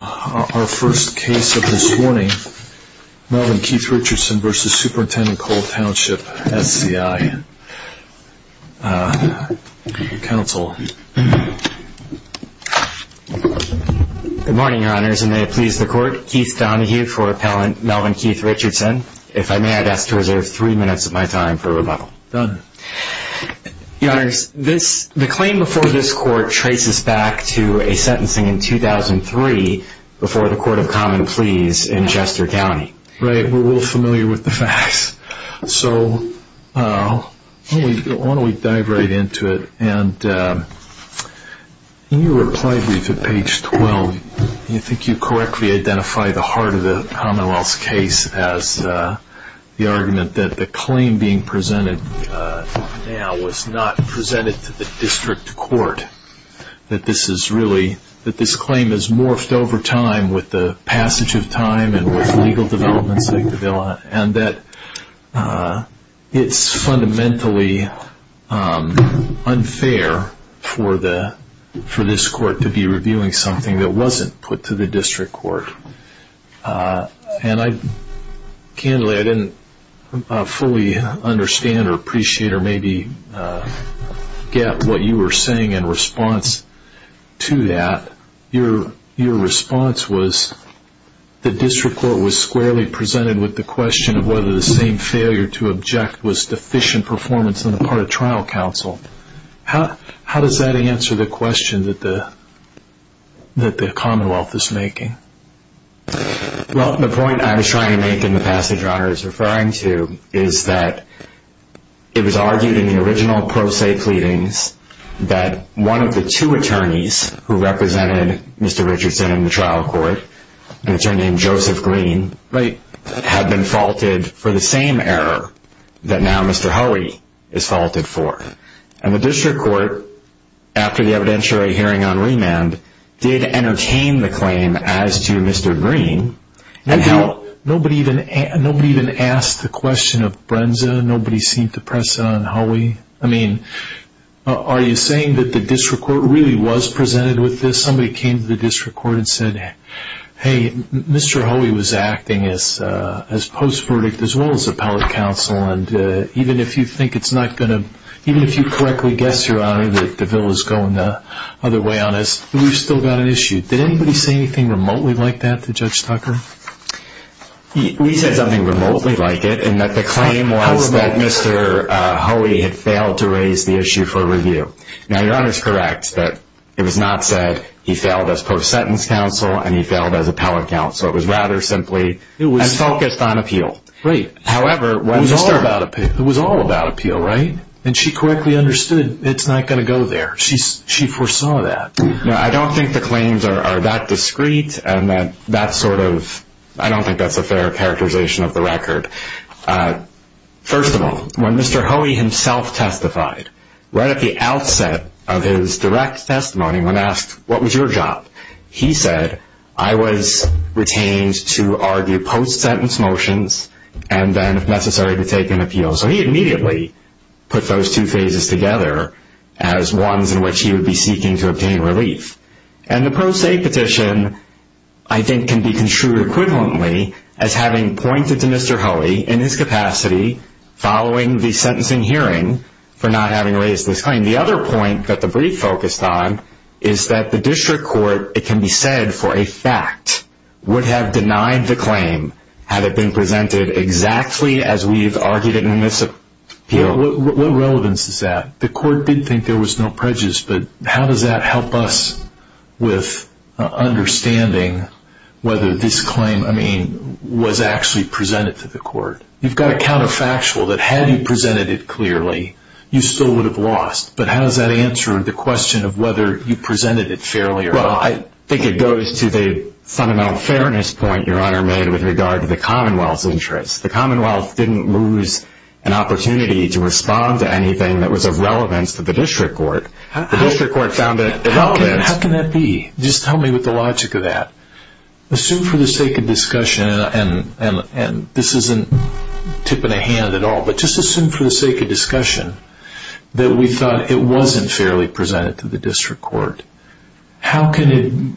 Our first case of this morning, Melvin Keith Richardson v. Superintendent Coal Township SCI Council. Good morning, Your Honors, and may it please the Court, Keith Donahue for Appellant Melvin Keith Richardson. If I may, I'd ask to reserve three minutes of my time for rebuttal. Done. Your Honors, the claim before this Court traces back to a sentencing in 2003 before the Court of Common Pleas in Chester County. Right. We're a little familiar with the facts. So why don't we dive right into it, and in your reply brief at page 12, do you think you correctly identify the heart of the Commonwealth's case as the argument that the claim being now was not presented to the District Court, that this claim has morphed over time with the passage of time and with legal developments, and that it's fundamentally unfair for this Court to be reviewing something that wasn't put to the District Court? Candidly, I didn't fully understand or appreciate or maybe get what you were saying in response to that. Your response was the District Court was squarely presented with the question of whether the same failure to object was deficient performance on the part of trial counsel. How does that answer the question that the Commonwealth is making? Well, the point I was trying to make in the passage Your Honors is referring to is that it was argued in the original pro se pleadings that one of the two attorneys who represented Mr. Richardson in the trial court, an attorney named Joseph Green, had been faulted for the same error that now Mr. Hoey is faulted for. And the District Court, after the evidentiary hearing on remand, did entertain the claim as to Mr. Green. Nobody even asked the question of Brenza? Nobody seemed to press it on Hoey? Are you saying that the District Court really was presented with this? Somebody came to the District Court and said, hey, Mr. Hoey was acting as post verdict as well as appellate counsel, and even if you correctly guess, Your Honor, that the bill is going the other way on us, we've still got an issue. Did anybody say anything remotely like that to Judge Tucker? We said something remotely like it, in that the claim was that Mr. Hoey had failed to raise the issue for review. Now, Your Honor is correct that it was not said he failed as post sentence counsel and he failed as appellate counsel. It was rather simply as focused on appeal. Right. However, it was all about appeal, right? And she correctly understood it's not going to go there. She foresaw that. No, I don't think the claims are that discreet and that's sort of, I don't think that's a fair characterization of the record. First of all, when Mr. Hoey himself testified, right at the outset of his direct testimony when asked, what was your job? He said, I was retained to argue post sentence motions and then if necessary to take an appeal. So he immediately put those two phases together as ones in which he would be seeking to obtain relief. And the Pro Se Petition, I think can be construed equivalently as having pointed to Mr. Hoey in his capacity following the sentencing hearing for not having raised this claim. And the other point that the brief focused on is that the district court, it can be said for a fact, would have denied the claim had it been presented exactly as we've argued in this appeal. What relevance is that? The court did think there was no prejudice, but how does that help us with understanding whether this claim, I mean, was actually presented to the court? You've got a counterfactual that had you presented it clearly, you still would have lost. But how does that answer the question of whether you presented it fairly or not? Well, I think it goes to the fundamental fairness point your honor made with regard to the commonwealth's interest. The commonwealth didn't lose an opportunity to respond to anything that was of relevance to the district court. The district court found it relevant. How can that be? Just tell me what the logic of that. Assume for the sake of discussion, and this isn't tipping a hand at all, but just assume for the sake of discussion that we thought it wasn't fairly presented to the district court. How can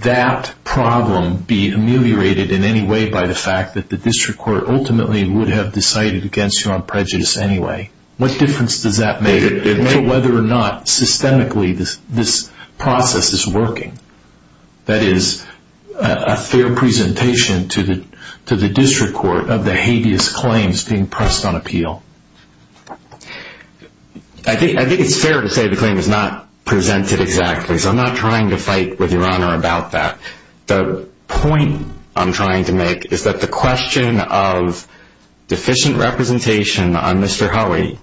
that problem be ameliorated in any way by the fact that the district court ultimately would have decided against you on prejudice anyway? What difference does that make to whether or not systemically this process is working? That is, a fair presentation to the district court of the hideous claims being pressed on appeal. I think it's fair to say the claim is not presented exactly, so I'm not trying to fight with your honor about that. The point I'm trying to make is that the question of deficient representation on Mr. Howey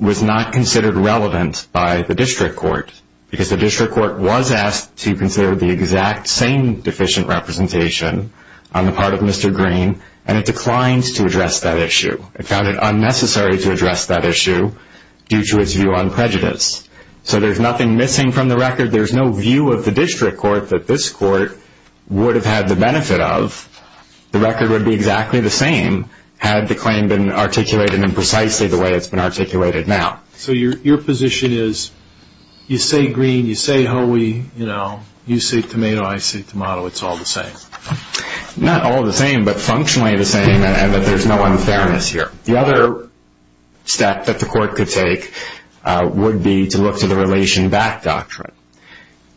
was not considered relevant by the district court because the district court was asked to consider the exact same deficient representation on the part of Mr. Green, and it declined to address that issue. It found it unnecessary to address that issue due to its view on prejudice. So there's nothing missing from the record. There's no view of the district court that this court would have had the benefit of. The record would be exactly the same had the claim been articulated in precisely the way it's been articulated now. So your position is, you say Green, you say Howey, you say tomato, I say tomato, it's all the same. Not all the same, but functionally the same, and that there's no unfairness here. The other step that the court could take would be to look to the relation back doctrine.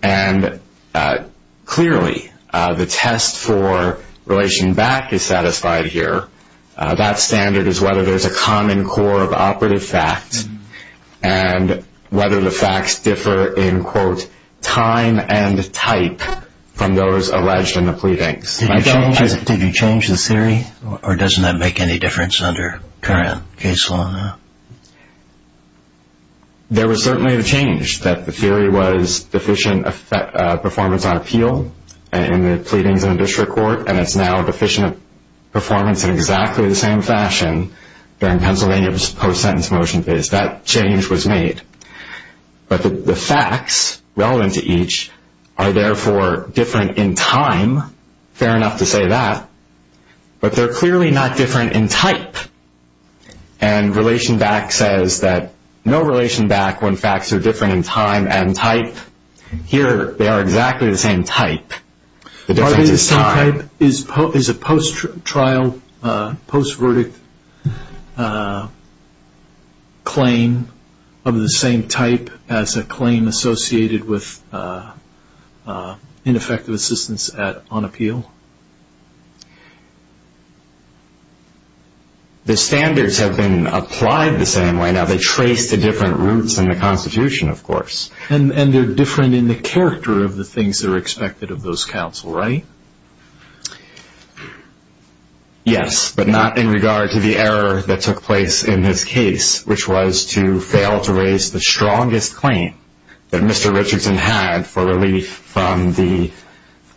And clearly, the test for relation back is satisfied here. That standard is whether there's a common core of operative facts, and whether the facts differ in, quote, time and type from those alleged in the pleadings. Did you change the theory, or doesn't that make any difference under current case law? There was certainly a change, that the theory was deficient performance on appeal in the performance in exactly the same fashion during Pennsylvania's post-sentence motion phase. That change was made. But the facts relevant to each are therefore different in time. Fair enough to say that. But they're clearly not different in type. And relation back says that no relation back when facts are different in time and type. Here, they are exactly the same type. The difference is time. Are they the same type? Is a post-trial, post-verdict claim of the same type as a claim associated with ineffective assistance on appeal? The standards have been applied the same way. Now, they trace to different routes in the Constitution, of course. And they're different in the character of the things that are expected of those counsel, right? Yes, but not in regard to the error that took place in this case, which was to fail to raise the strongest claim that Mr. Richardson had for relief from the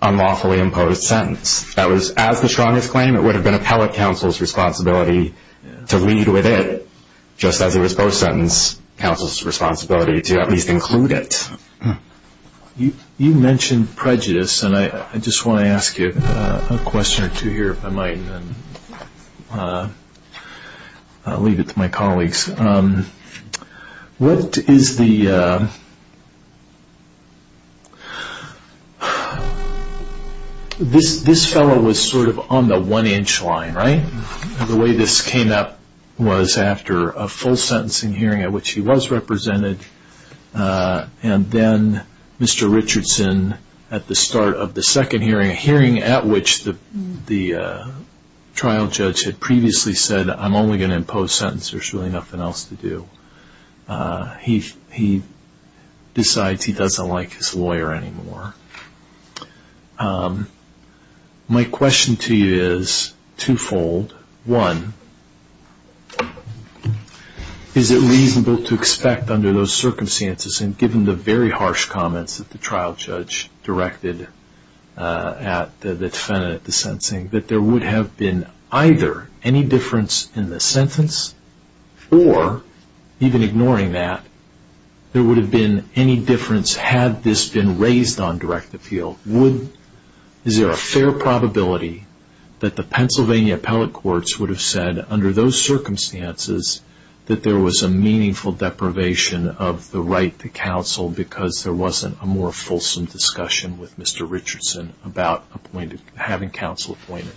unlawfully imposed sentence. That was, as the strongest claim, it would have been appellate counsel's responsibility to lead with it, just as it was post-sentence counsel's responsibility to at least include it. You mentioned prejudice, and I just want to ask you a question or two here, if I might. I'll leave it to my colleagues. What is the... This fellow was sort of on the one-inch line, right? The way this came up was after a full-sentencing hearing at which he was represented, and then Mr. Richardson, at the start of the second hearing, a hearing at which the trial judge had previously said, I'm only going to impose sentence, there's really nothing else to do. He decides he doesn't like his lawyer anymore. My question to you is two-fold. One, is it reasonable to expect under those circumstances, and given the very harsh comments that the trial judge directed at the defendant at the sentencing, that there would have been either any difference in the sentence, or, even ignoring that, there would have been any difference had this been raised on direct appeal? Is there a fair probability that the Pennsylvania appellate courts would have said, under those circumstances, that there was a meaningful deprivation of the right to counsel because there wasn't a more fulsome discussion with Mr. Richardson about having counsel appointed?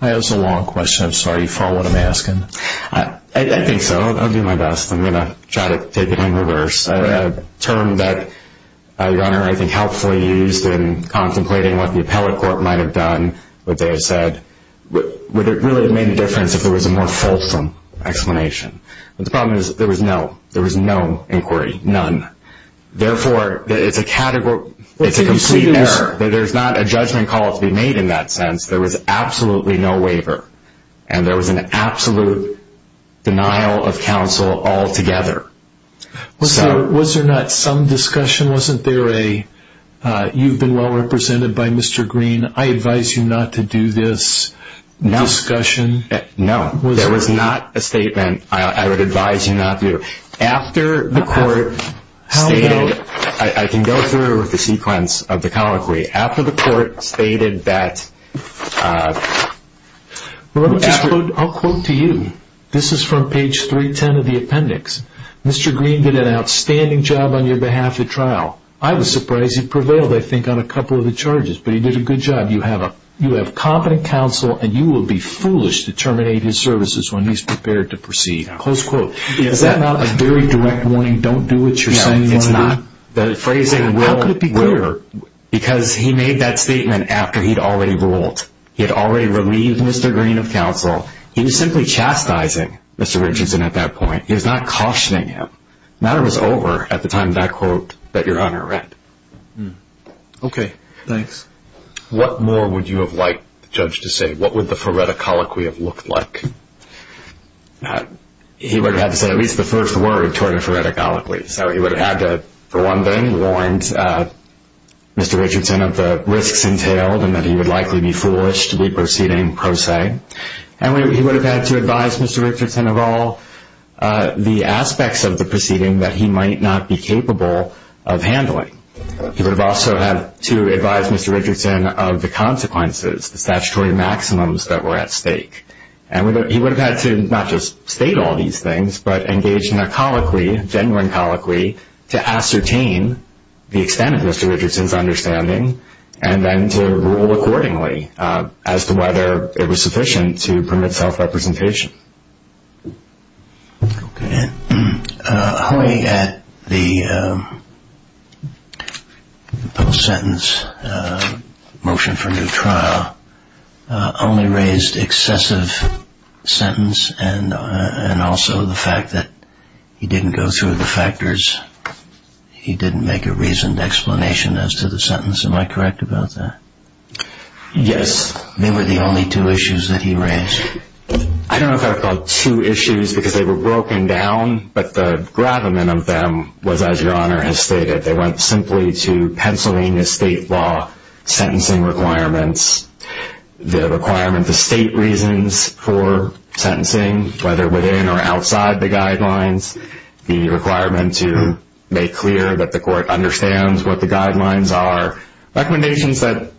That's a long question. I'm sorry. You follow what I'm asking? I think so. I'll do my best. I'm going to try to take it in reverse. A term that your Honor, I think, helpfully used in contemplating what the appellate court might have done, what they have said, would it really have made a difference if there was a more fulsome explanation? The problem is, there was no inquiry, none. Therefore, it's a complete error. There's not a judgment call to be made in that sense. There was absolutely no waiver, and there was an absolute denial of counsel altogether. Was there not some discussion? Wasn't there a, you've been well represented by Mr. Green, I advise you not to do this discussion? No. No. There was not a statement, I would advise you not to do. After the court stated, I can go through the sequence of the colloquy. After the court stated that, I'll quote to you. This is from page 310 of the appendix. Mr. Green did an outstanding job on your behalf at trial. I was surprised he prevailed, I think, on a couple of the charges, but he did a good job. You have competent counsel, and you will be foolish to terminate his services when he's prepared to proceed. Close quote. Is that not a very direct warning, don't do what you're saying you want to do? No, it's not. The phrase, how could it be clearer? Because he made that statement after he'd already ruled. He'd already relieved Mr. Green of counsel. He was simply chastising Mr. Richardson at that point. He was not cautioning him. The matter was over at the time that quote that your honor read. Okay, thanks. What more would you have liked the judge to say? What would the phoretic colloquy have looked like? He would have had to say at least the first word toward a phoretic colloquy. So he would have had to, for one thing, warned Mr. Richardson of the risks entailed and that he would likely be foolish to be proceeding pro se. And he would have had to advise Mr. Richardson of all the aspects of the proceeding that he might not be capable of handling. He would have also had to advise Mr. Richardson of the consequences, the statutory maximums that were at stake. And he would have had to not just state all these things, but engage in a colloquy, a genuine colloquy, to ascertain the extent of Mr. Richardson's understanding and then to rule accordingly as to whether it was sufficient to permit self-representation. Okay. Hoy at the post-sentence motion for new trial only raised excessive sentence and also the fact that he didn't go through the factors, he didn't make a reasoned explanation as to the sentence. Am I correct about that? Yes. They were the only two issues that he raised. I don't know if I would call it two issues because they were broken down, but the gravamen of them was, as Your Honor has stated, they went simply to Pennsylvania state law sentencing requirements, the requirement, the state reasons for sentencing, whether within or outside the guidelines, the requirement to make clear that the court understands what the guidelines are. Recommendations that,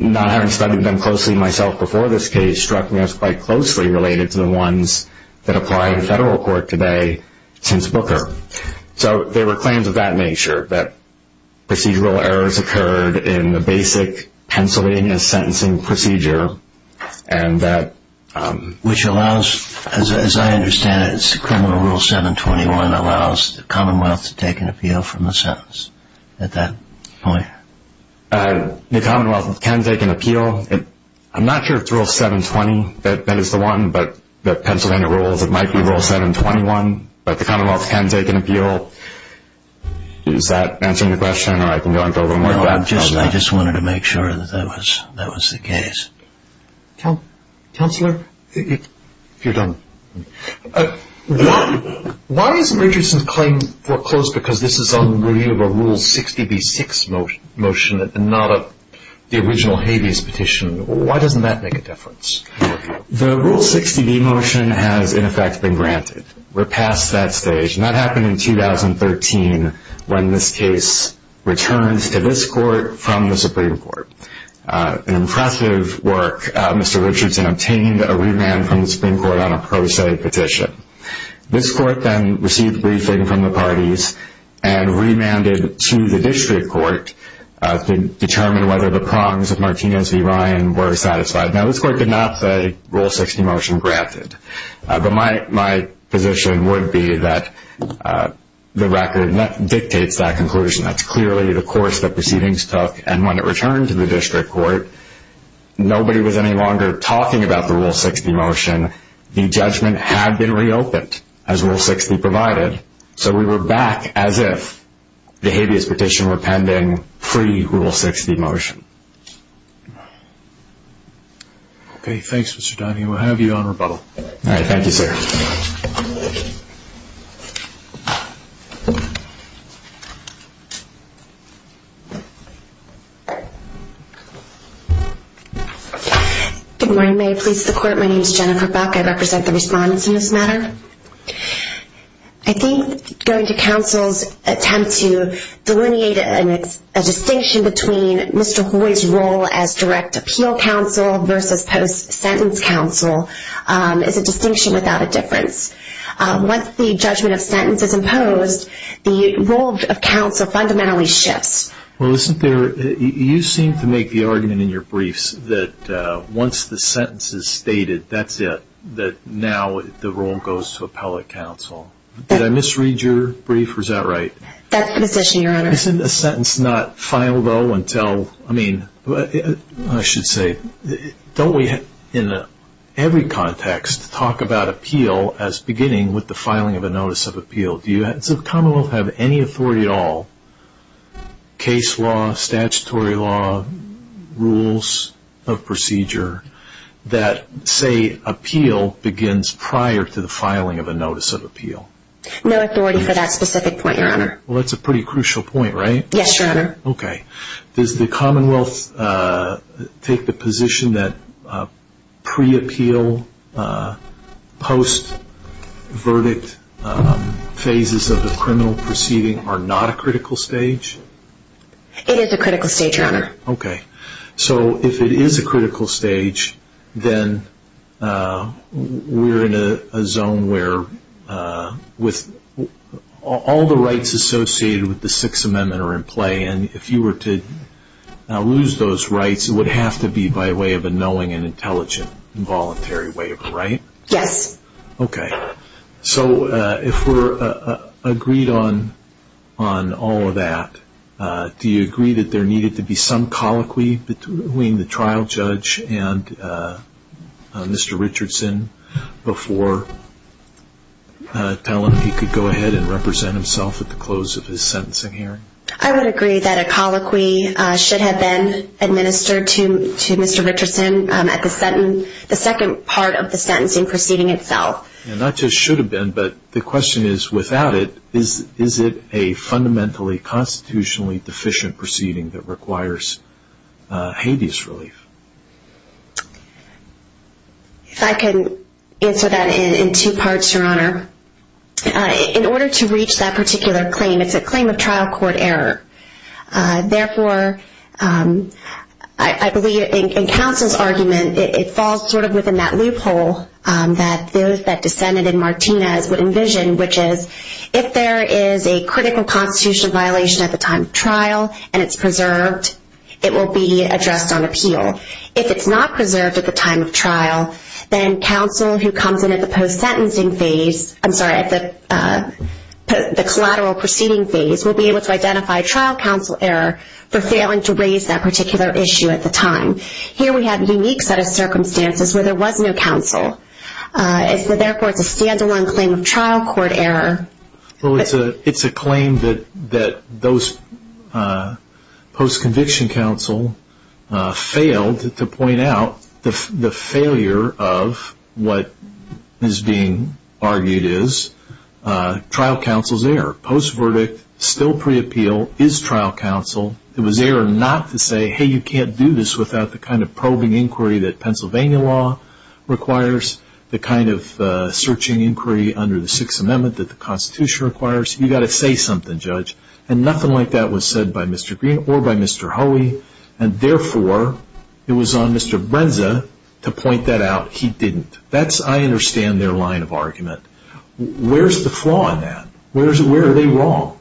not having studied them closely myself before this case, struck me as quite closely related to the ones that apply in federal court today since Booker. So there were claims of that nature, that procedural errors occurred in the basic Pennsylvania sentencing procedure and that... Which allows, as I understand it, it's criminal rule 721 allows the commonwealth to take an appeal. I'm not sure if it's rule 720 that is the one, but the Pennsylvania rules, it might be rule 721, but the commonwealth can take an appeal. Is that answering your question or I can go into a little more depth on that? No, I just wanted to make sure that that was the case. Counselor, if you're done. Why is Richardson's claim foreclosed because this is on the rule 60B6 motion and not the original habeas petition? Why doesn't that make a difference? The rule 60B motion has in effect been granted. We're past that stage and that happened in 2013 when this case returns to this court from the Supreme Court. An impressive work, Mr. Richardson obtained a remand from the Supreme Court on a pro se petition. This court then received a briefing from the parties and remanded to the district court to determine whether the prongs of Martinez v. Ryan were satisfied. Now this court could not say rule 60 motion granted, but my position would be that the record dictates that conclusion. That's clearly the course that proceedings took and when it returned to the district court, nobody was any longer talking about the rule 60 motion. The judgment had been reopened as rule 60 provided, so we were back as if the habeas petition were pending pre-rule 60 motion. Okay, thanks Mr. Donahue. We'll have you on rebuttal. Alright, thank you sir. Good morning, may I please the court, my name is Jennifer Buck, I represent the respondents in this matter. I think going to counsel's attempt to delineate a distinction between Mr. Hoy's role as direct appeal counsel versus post-sentence counsel is a distinction without a difference. Once the judgment of sentence is imposed, the role of counsel fundamentally shifts. Well, you seem to make the argument in your briefs that once the sentence is stated, that's it, that now the role goes to appellate counsel. Did I misread your brief, or is that right? That's the position, your honor. Isn't a sentence not filed though until, I mean, I should say, don't we in every context talk about appeal as beginning with the filing of a notice of appeal. Does the commonwealth have any authority at all, case law, statutory law, rules of procedure, that say appeal begins prior to the filing of a notice of appeal? No authority for that specific point, your honor. Well, that's a pretty crucial point, right? Yes, your honor. Okay. Does the commonwealth take the position that pre-appeal, post-verdict phases of the criminal proceeding are not a critical stage? It is a critical stage, your honor. Okay. So, if it is a critical stage, then we're in a zone where all the rights associated with the Sixth Amendment are in play, and if you were to lose those rights, it would have to be by way of a knowing and intelligent and voluntary waiver, right? Yes. Okay. So, if we're agreed on all of that, do you agree that there needed to be some colloquy between the trial judge and Mr. Richardson before telling him he could go ahead and represent himself at the close of his sentencing hearing? I would agree that a colloquy should have been administered to Mr. Richardson at the second part of the sentencing proceeding itself. And not just should have been, but the question is, without it, is it a fundamentally, constitutionally deficient proceeding that requires hadeous relief? In order to reach that particular claim, it's a claim of trial court error. Therefore, I believe in counsel's argument, it falls sort of within that loophole that those that dissented in Martinez would envision, which is, if there is a critical constitutional violation at the time of trial and it's preserved, it will be addressed on appeal. If it's not preserved at the time of trial, then counsel who comes in at the post-sentencing phase, I'm sorry, at the collateral proceeding phase, will be able to identify trial counsel error for failing to raise that particular issue at the time. Here we have a unique set of circumstances where there was no counsel. Therefore, it's a stand-alone claim of trial court error. It's a claim that those post-conviction counsel failed to point out the failure of what is being argued as trial counsel's error. Post-verdict, still pre-appeal, is trial counsel. It was error not to say, hey, you can't do this without the kind of probing inquiry that Pennsylvania law requires, the kind of searching inquiry under the Sixth Amendment that the Constitution requires. You've got to say something, judge. Nothing like that was said by Mr. Green or by Mr. Hoey, and therefore, it was on Mr. Brenza to point that out. He didn't. That's, I understand, their line of argument. Where's the flaw in that? Where are they wrong?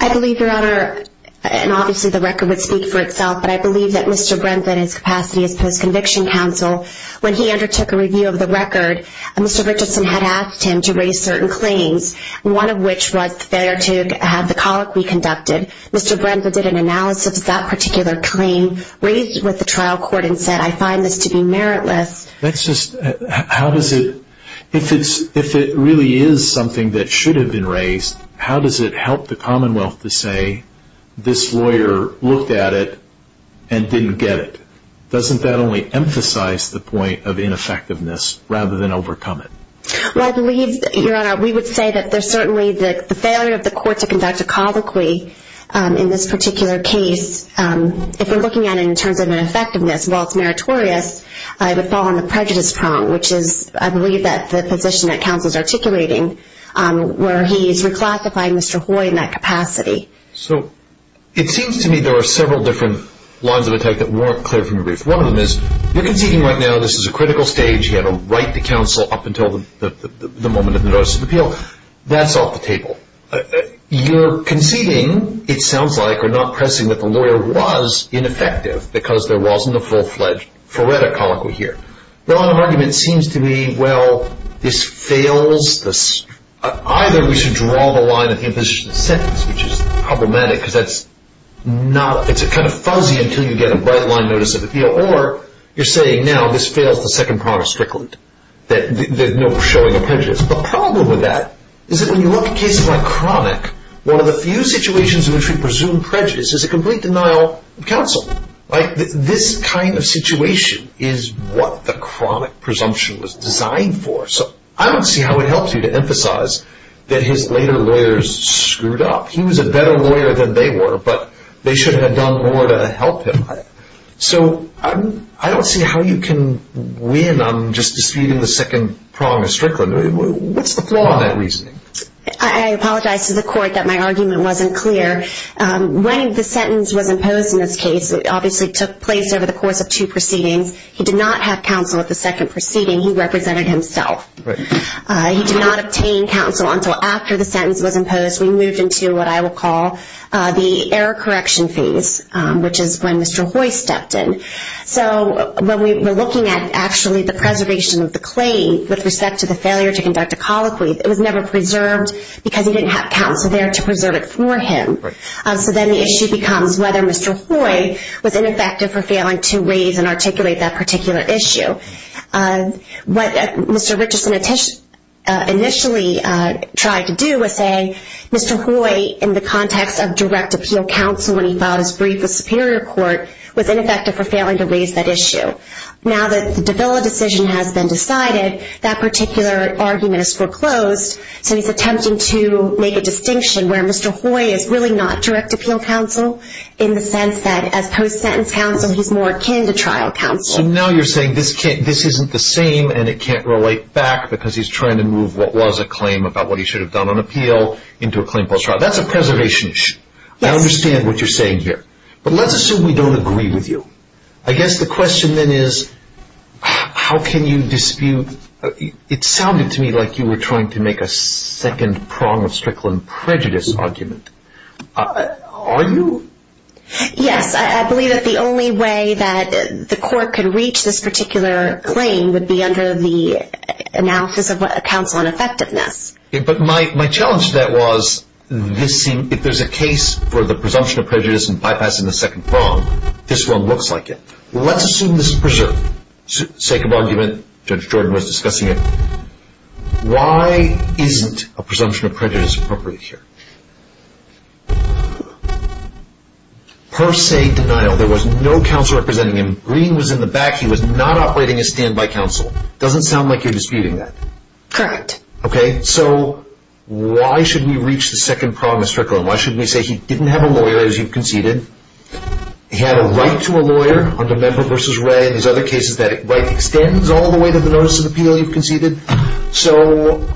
I believe, Your Honor, and obviously the record would speak for itself, but I believe that Mr. Brenza in his capacity as post-conviction counsel, when he undertook a review of the record, Mr. Richardson had asked him to raise certain claims, one of which was the failure to have the colic reconducted. Mr. Brenza did an analysis of that particular claim, raised it with the trial court, and said, I find this to be meritless. That's just, how does it, if it really is something that should have been raised, how does it help the commonwealth to say, this lawyer looked at it and didn't get it? Doesn't that only emphasize the point of ineffectiveness, rather than overcome it? Well, I believe, Your Honor, we would say that there's certainly the failure of the court to conduct a colloquy in this particular case, if we're looking at it in terms of the prejudice prong, which is, I believe, the position that counsel is articulating, where he is reclassifying Mr. Hoy in that capacity. So it seems to me there are several different lines of attack that weren't clear from your brief. One of them is, you're conceding right now, this is a critical stage, you have a right to counsel up until the moment of the notice of appeal, that's off the table. You're conceding, it sounds like, or not pressing that the lawyer was ineffective because there The line of argument seems to me, well, this fails, either we should draw the line at the imposition of the sentence, which is problematic, because it's kind of fuzzy until you get a bright line notice of appeal, or you're saying, now, this fails the second part of Strickland, that there's no showing of prejudice. The problem with that is that when you look at cases like Cronic, one of the few situations Like, this kind of situation is what the Cronic presumption was designed for. So I don't see how it helps you to emphasize that his later lawyers screwed up. He was a better lawyer than they were, but they should have done more to help him. So I don't see how you can win on just disputing the second prong of Strickland. What's the flaw in that reasoning? I apologize to the court that my argument wasn't clear. When the sentence was imposed in this case, it obviously took place over the course of two proceedings. He did not have counsel at the second proceeding. He represented himself. He did not obtain counsel until after the sentence was imposed. We moved into what I will call the error correction phase, which is when Mr. Hoy stepped in. So when we were looking at actually the preservation of the claim with respect to the failure to conduct a colloquy, it was never preserved because he didn't have counsel there to preserve it for him. So then the issue becomes whether Mr. Hoy was ineffective for failing to raise and articulate that particular issue. What Mr. Richardson initially tried to do was say, Mr. Hoy, in the context of direct appeal counsel when he filed his brief with Superior Court, was ineffective for failing to raise that issue. Now that the Davila decision has been decided, that particular argument is foreclosed. So he's attempting to make a distinction where Mr. Hoy is really not direct appeal counsel in the sense that as post-sentence counsel, he's more akin to trial counsel. So now you're saying this isn't the same and it can't relate back because he's trying to move what was a claim about what he should have done on appeal into a claim post-trial. That's a preservation issue. I understand what you're saying here. But let's assume we don't agree with you. I guess the question then is, how can you dispute? It sounded to me like you were trying to make a second prong of Strickland prejudice argument. Are you? Yes. I believe that the only way that the court could reach this particular claim would be under the analysis of counsel ineffectiveness. But my challenge to that was, if there's a case for the presumption of prejudice and bypassing the second prong, this one looks like it. Let's assume this is preserved. Sake of argument, Judge Jordan was discussing it. Why isn't a presumption of prejudice appropriate here? Per se, denial. There was no counsel representing him. Green was in the back. He was not operating as standby counsel. Doesn't sound like you're disputing that. Correct. Okay, so why should we reach the second prong of Strickland? Why should we say he didn't have a lawyer as you've conceded? He had a right to a lawyer under Member v. Wray. In his other cases, that right extends all the way to the notice of appeal you've conceded. So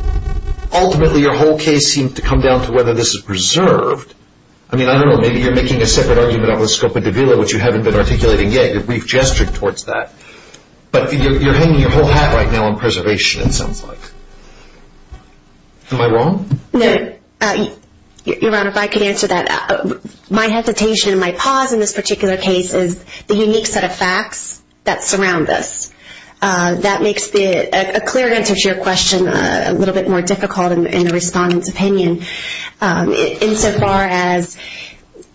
ultimately, your whole case seemed to come down to whether this is preserved. I mean, I don't know. Maybe you're making a separate argument over the scope of Davila, which you haven't been articulating yet. We've gestured towards that. But you're hanging your whole hat right now on preservation, it sounds like. Am I wrong? No. Your Honor, if I could answer that. My hesitation and my pause in this particular case is the unique set of facts that surround this. That makes a clear answer to your question a little bit more difficult in the Respondent's opinion insofar as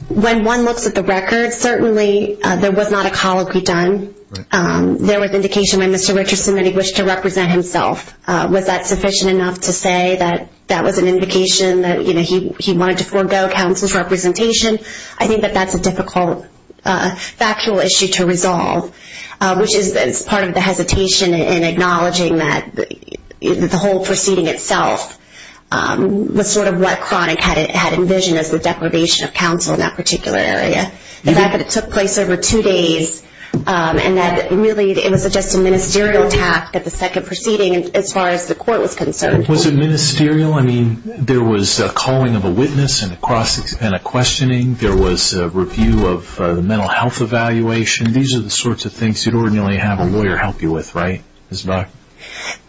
when one looks at the records, certainly there was not a call to be done. There was indication by Mr. Richardson that he wished to represent himself. Was that sufficient enough to say that that was an indication that he wanted to forego counsel's representation? I think that that's a difficult factual issue to resolve, which is part of the hesitation in acknowledging that the whole proceeding itself was sort of what Cronic had envisioned as the deprivation of counsel in that particular area. The fact that it took place over two days and that really it was just a ministerial task at the second proceeding as far as the court was concerned. Was it ministerial? There was a calling of a witness and a questioning. There was a review of the mental health evaluation. These are the sorts of things you'd ordinarily have a lawyer help you with, right?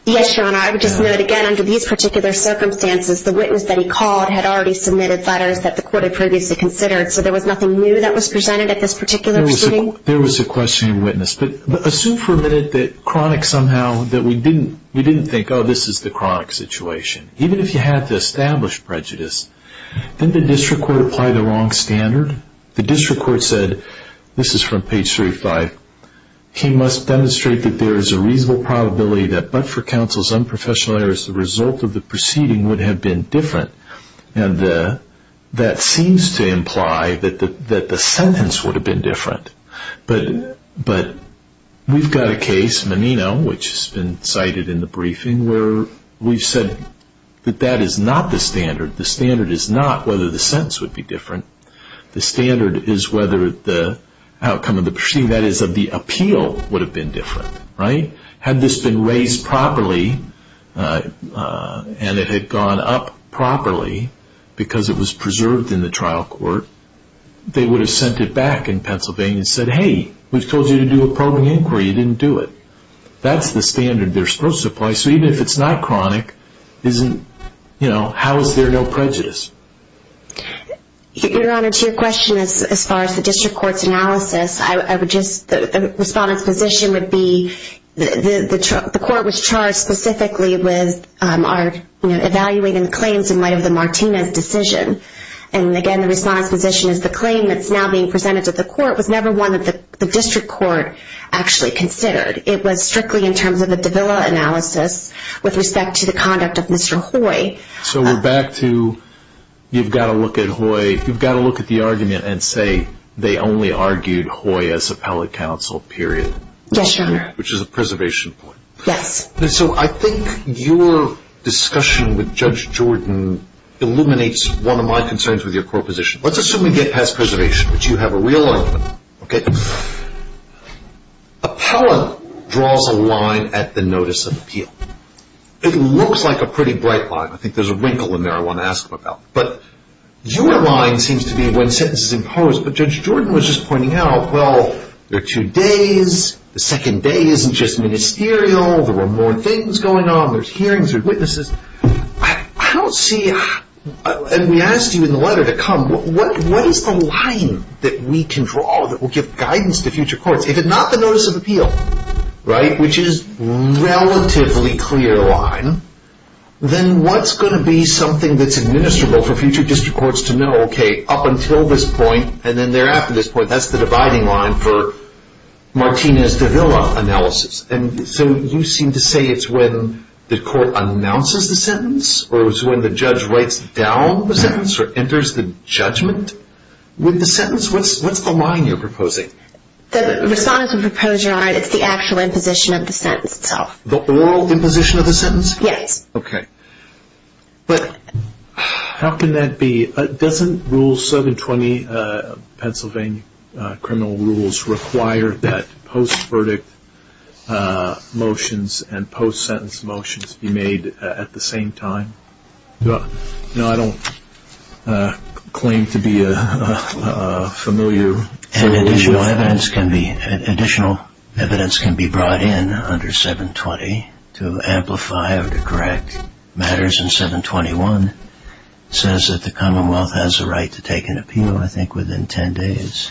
Yes, Your Honor. I would just note again under these particular circumstances, the witness that he called had already submitted letters that the court had previously considered, so there was nothing new that was presented at this particular proceeding? There was a questioning witness. Assume for a minute that Cronic somehow that we didn't think, oh, this is the Cronic situation. Even if you had to establish prejudice, didn't the district court apply the wrong standard? The district court said, this is from page 35, he must demonstrate that there is a reasonable probability that but for counsel's unprofessional errors, the result of the proceeding would have been different. And that seems to imply that the sentence would have been different, but we've got a case, Menino, which has been cited in the briefing where we've said that that is not the standard. The standard is not whether the sentence would be different. The standard is whether the outcome of the proceeding, that is of the appeal, would have been different, right? Had this been raised properly and it had gone up properly because it was preserved in the trial court, they would have sent it back in Pennsylvania and said, hey, we've told you to do a probing inquiry. You didn't do it. That's the standard they're supposed to apply. So even if it's not Cronic, how is there no prejudice? Your Honor, to your question as far as the district court's analysis, the Respondent's position would be the court was charged specifically with evaluating the claims in light of the Martinez decision. And again, the Respondent's position is the claim that's now being presented to the court was never one that the district court actually considered. It was strictly in terms of a Davila analysis with respect to the conduct of Mr. Hoy. So we're back to you've got to look at Hoy, you've got to look at the argument and say they only argued Hoy as appellate counsel, period. Yes, Your Honor. Which is a preservation point. Yes. So I think your discussion with Judge Jordan illuminates one of my concerns with your court position. Let's assume we get past preservation, but you have a real argument, okay? Appellant draws a line at the notice of appeal. It looks like a pretty bright line. I think there's a wrinkle in there I want to ask him about. But your line seems to be when sentence is imposed, but Judge Jordan was just pointing out, well, there are two days. The second day isn't just ministerial. There were more things going on. There's hearings, there's witnesses. I don't see, and we asked you in the letter to come, what is the line that we can draw that will give guidance to future courts? If it's not the notice of appeal, right? Which is a relatively clear line, then what's going to be something that's administrable for future district courts to know, okay, up until this point and then thereafter this point, that's the dividing line for Martina's Davila analysis. So you seem to say it's when the court announces the sentence or it's when the judge writes down the sentence or enters the judgment with the sentence? What's the line you're proposing? The response and proposal, it's the actual imposition of the sentence itself. The oral imposition of the sentence? Yes. Okay. How can that be? Doesn't rule 720 Pennsylvania criminal rules require that post-verdict motions and post-sentence motions be made at the same time? No, I don't claim to be a familiar- Additional evidence can be brought in under 720 to amplify or to correct matters in 721. It says that the Commonwealth has a right to take an appeal, I think, within 10 days.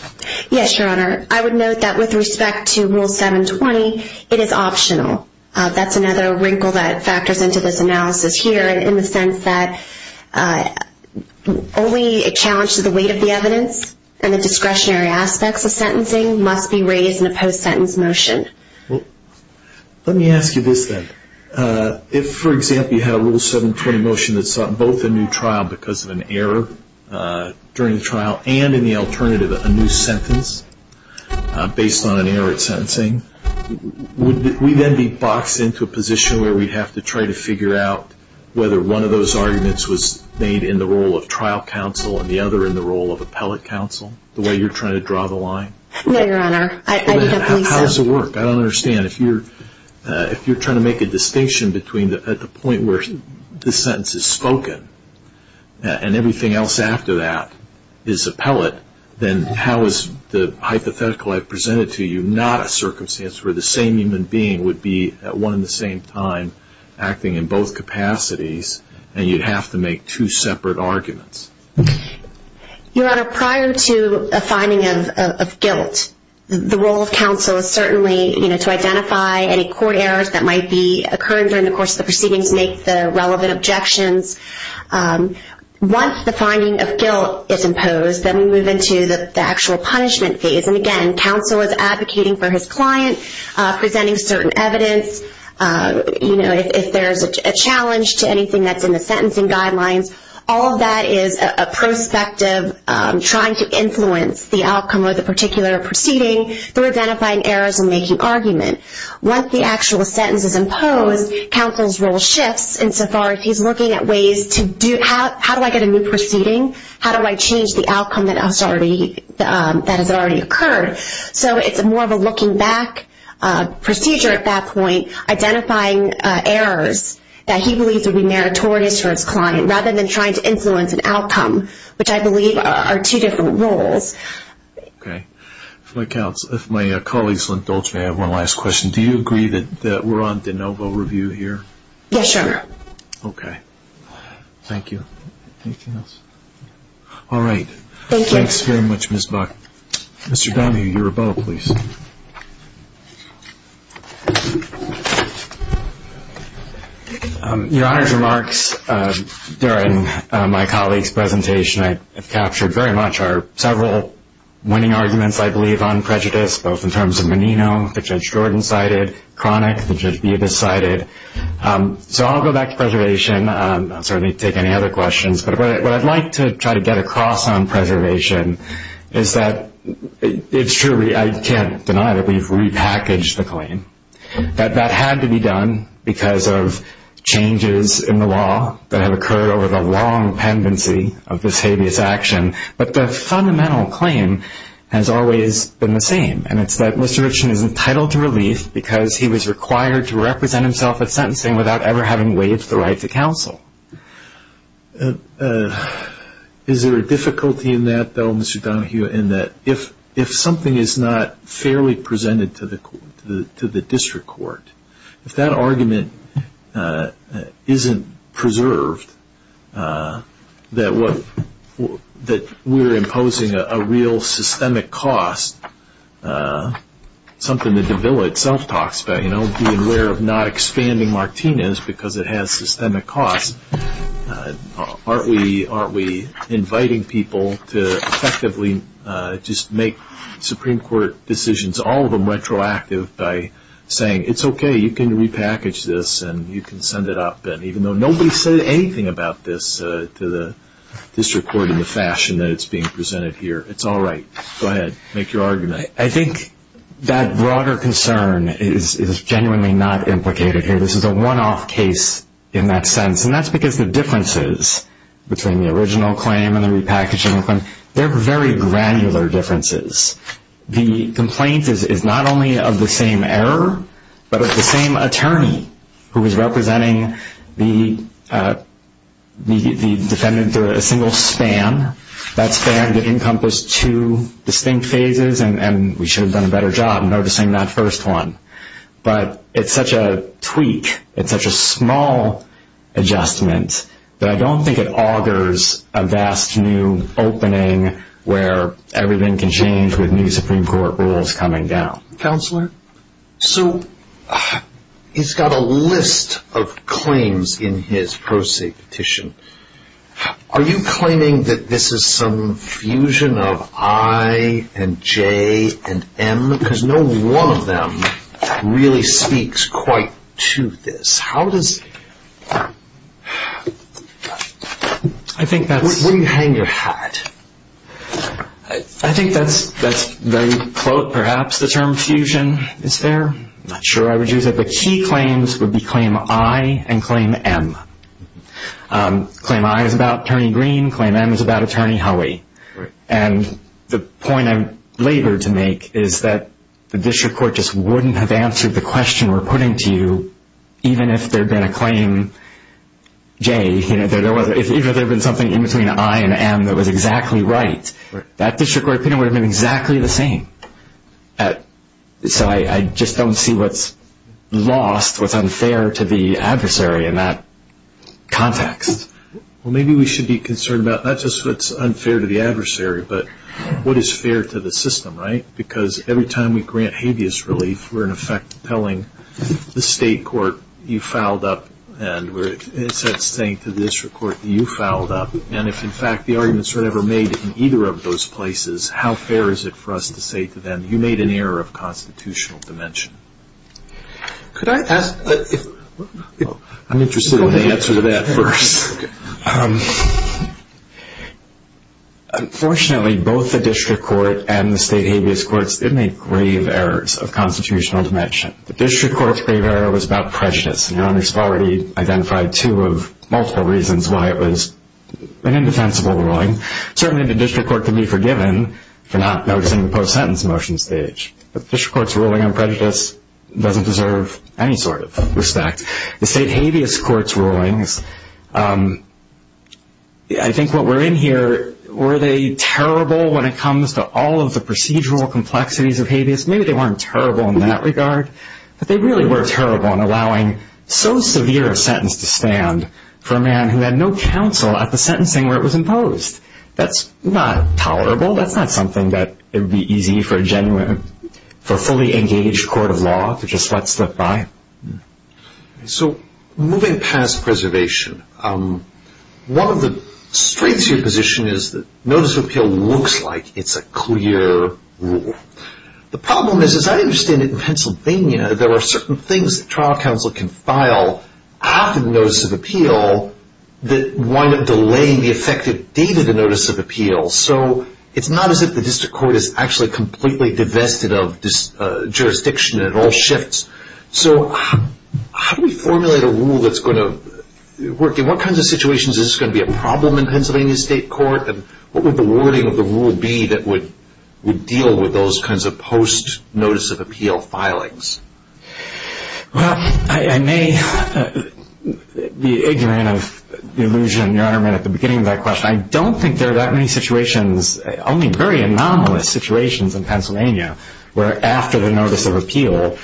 Yes, Your Honor. I would note that with respect to rule 720, it is optional. That's another wrinkle that factors into this analysis here in the sense that only a challenge to the weight of the evidence and the discretionary aspects of sentencing must be raised in a post-sentence motion. Let me ask you this, then. If, for example, you had a rule 720 motion that sought both a new trial because of an error during the trial and, in the alternative, a new sentence based on an error at sentencing, would we then be boxed into a position where we'd have to try to figure out whether one of those arguments was made in the role of trial counsel and the other in the role of appellate counsel, the way you're trying to draw the line? No, Your Honor. How does it work? I don't understand. If you're trying to make a distinction at the point where the sentence is spoken and everything else after that is appellate, then how is the hypothetical I've presented to you not a circumstance where the same human being would be at one and the same time acting in both capacities and you'd have to make two separate arguments? Okay. Your Honor, prior to a finding of guilt, the role of counsel is certainly to identify any court errors that might be occurring during the course of the proceedings, make the relevant objections. Once the finding of guilt is imposed, then we move into the actual punishment phase. And again, counsel is advocating for his client, presenting certain evidence. If there's a challenge to anything that's in the sentencing guidelines, all of that is a prospective trying to influence the outcome of the particular proceeding through identifying errors and making argument. Once the actual sentence is imposed, counsel's role shifts insofar as he's looking at ways to do, how do I get a new proceeding? How do I change the outcome that has already occurred? So it's more of a looking back procedure at that point, identifying errors that he might be trying to influence an outcome, which I believe are two different roles. Okay. My colleagues may have one last question. Do you agree that we're on de novo review here? Yes, Your Honor. Okay. Thank you. All right. Mr. Donohue, your rebuttal, please. Your Honor's remarks during my colleague's presentation, I've captured very much are several winning arguments, I believe, on prejudice, both in terms of Menino, the Judge Jordan cited, Cronic, the Judge Bubis cited. So I'll go back to preservation. I'll certainly take any other questions. But what I'd like to try to get across on preservation is that it's true, I can't believe we've repackaged the claim, that that had to be done because of changes in the law that have occurred over the long pendency of this habeas action. But the fundamental claim has always been the same. And it's that Mr. Richman is entitled to relief because he was required to represent himself at sentencing without ever having waived the right to counsel. Is there a difficulty in that, though, Mr. Donohue, in that if something is not fairly presented to the district court, if that argument isn't preserved, that we're imposing a real systemic cost, something that the bill itself talks about, being aware of not expanding Martinez because it has systemic costs. Aren't we inviting people to effectively just make Supreme Court decisions, all of them retroactive, by saying, it's okay, you can repackage this and you can send it up, even though nobody said anything about this to the district court in the fashion that it's being presented here. It's all right. Go ahead. Make your argument. I think that broader concern is genuinely not implicated here. This is a one-off case in that sense. And that's because the differences between the original claim and the repackaging claim, they're very granular differences. The complaint is not only of the same error, but of the same attorney who is representing the defendant to a single span. That span did encompass two distinct phases, and we should have done a better job noticing that first one. But it's such a tweak, it's such a small adjustment that I don't think it augurs a vast new opening where everything can change with new Supreme Court rules coming down. Counselor, so he's got a list of claims in his pro se petition. Are you claiming that this is some fusion of I and J and M? Because no one of them really speaks quite to this. How does... I think that's... Where do you hang your hat? I think that's very close. Perhaps the term fusion is there. I'm not sure I would use it. The key claims would be claim I and claim M. Claim I is about Attorney Green. Claim M is about Attorney Howey. And the point I'm labored to make is that the district court just wouldn't have answered the question we're putting to you even if there had been a claim J, even if there had been something in between I and M that was exactly right. That district court opinion would have been exactly the same. So I just don't see what's lost, what's unfair to the adversary in that context. Well, maybe we should be concerned about not just what's unfair to the adversary, but what is fair to the system, right? Because every time we grant habeas relief, we're, in effect, telling the state court, you fouled up, and we're, in a sense, saying to the district court, you fouled up. And if, in fact, the arguments were never made in either of those places, how fair is it for us to say to them, you made an error of constitutional dimension? Could I ask... I'm interested in the answer to that first. Um, unfortunately, both the district court and the state habeas courts did make grave errors of constitutional dimension. The district court's grave error was about prejudice, and your honor's already identified two of multiple reasons why it was an indefensible ruling. Certainly, the district court can be forgiven for not noticing the post-sentence motion stage, but the district court's ruling on prejudice doesn't deserve any sort of respect. The state habeas court's rulings, um, I think what we're in here, were they terrible when it comes to all of the procedural complexities of habeas? Maybe they weren't terrible in that regard, but they really were terrible in allowing so severe a sentence to stand for a man who had no counsel at the sentencing where it was imposed. That's not tolerable. That's not something that would be easy for a genuine, for a fully engaged court of law to just let slip by. So, moving past preservation, um, one of the strengths of your position is that notice of appeal looks like it's a clear rule. The problem is, as I understand it in Pennsylvania, there are certain things that trial counsel can file after the notice of appeal that wind up delaying the effective date of the notice of appeal. So, it's not as if the district court is actually completely divested of jurisdiction and it all shifts. So, how do we formulate a rule that's going to work? In what kinds of situations is this going to be a problem in Pennsylvania state court? And what would the wording of the rule be that would deal with those kinds of post notice of appeal filings? Well, I may be ignorant of the illusion Your Honor made at the beginning of that question. I don't think there are that many situations, only very anomalous situations in Pennsylvania where after the notice of appeal,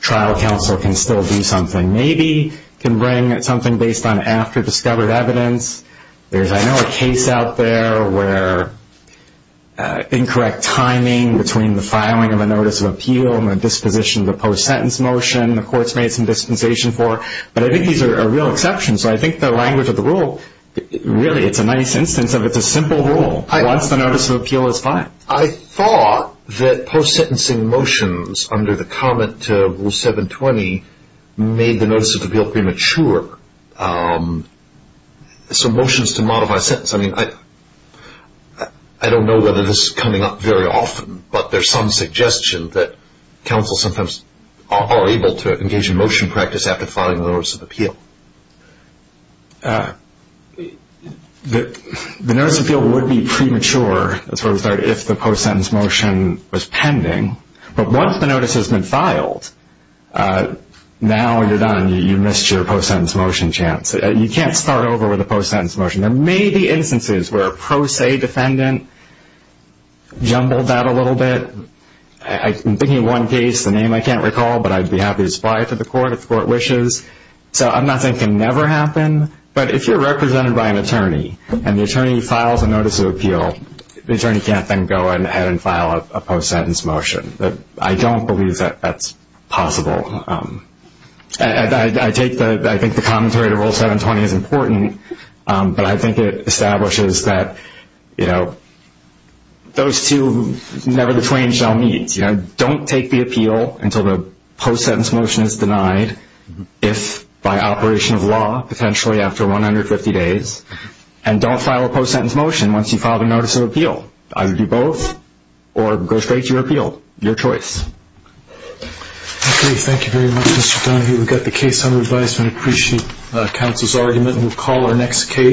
trial counsel can still do something. Maybe can bring something based on after-discovered evidence. There's, I know, a case out there where incorrect timing between the filing of a notice of appeal and the disposition of the post-sentence motion, the court's made some dispensation for. But I think these are real exceptions. So, I think the language of the rule, really, it's a nice instance of it's a simple rule once the notice of appeal is filed. I thought that post-sentencing motions under the comment to Rule 720 made the notice of appeal premature. So, motions to modify a sentence. I mean, I don't know whether this is coming up very often, but there's some suggestion that counsel sometimes are able to engage in motion practice after filing the notice of appeal. The notice of appeal would be premature. That's where we start, if the post-sentence motion was pending. But once the notice has been filed, now when you're done, you missed your post-sentence motion chance. You can't start over with a post-sentence motion. There may be instances where a pro se defendant jumbled that a little bit. I'm thinking of one case, a name I can't recall, but I'd be happy to supply it to the court if the court wishes. So, I'm not thinking never happen. But if you're represented by an attorney and the attorney files a notice of appeal, the attorney can't then go ahead and file a post-sentence motion. I don't believe that that's possible. I think the commentary to Rule 720 is important, but I think it establishes that those two never between shall meet. Don't take the appeal until the post-sentence motion is denied, if by operation of law, potentially after 150 days. And don't file a post-sentence motion once you've filed a notice of appeal. Either do both or go straight to your appeal. Your choice. Okay. Thank you very much, Mr. Donahue. We've got the case under advisement. Appreciate counsel's argument. We'll call our next case.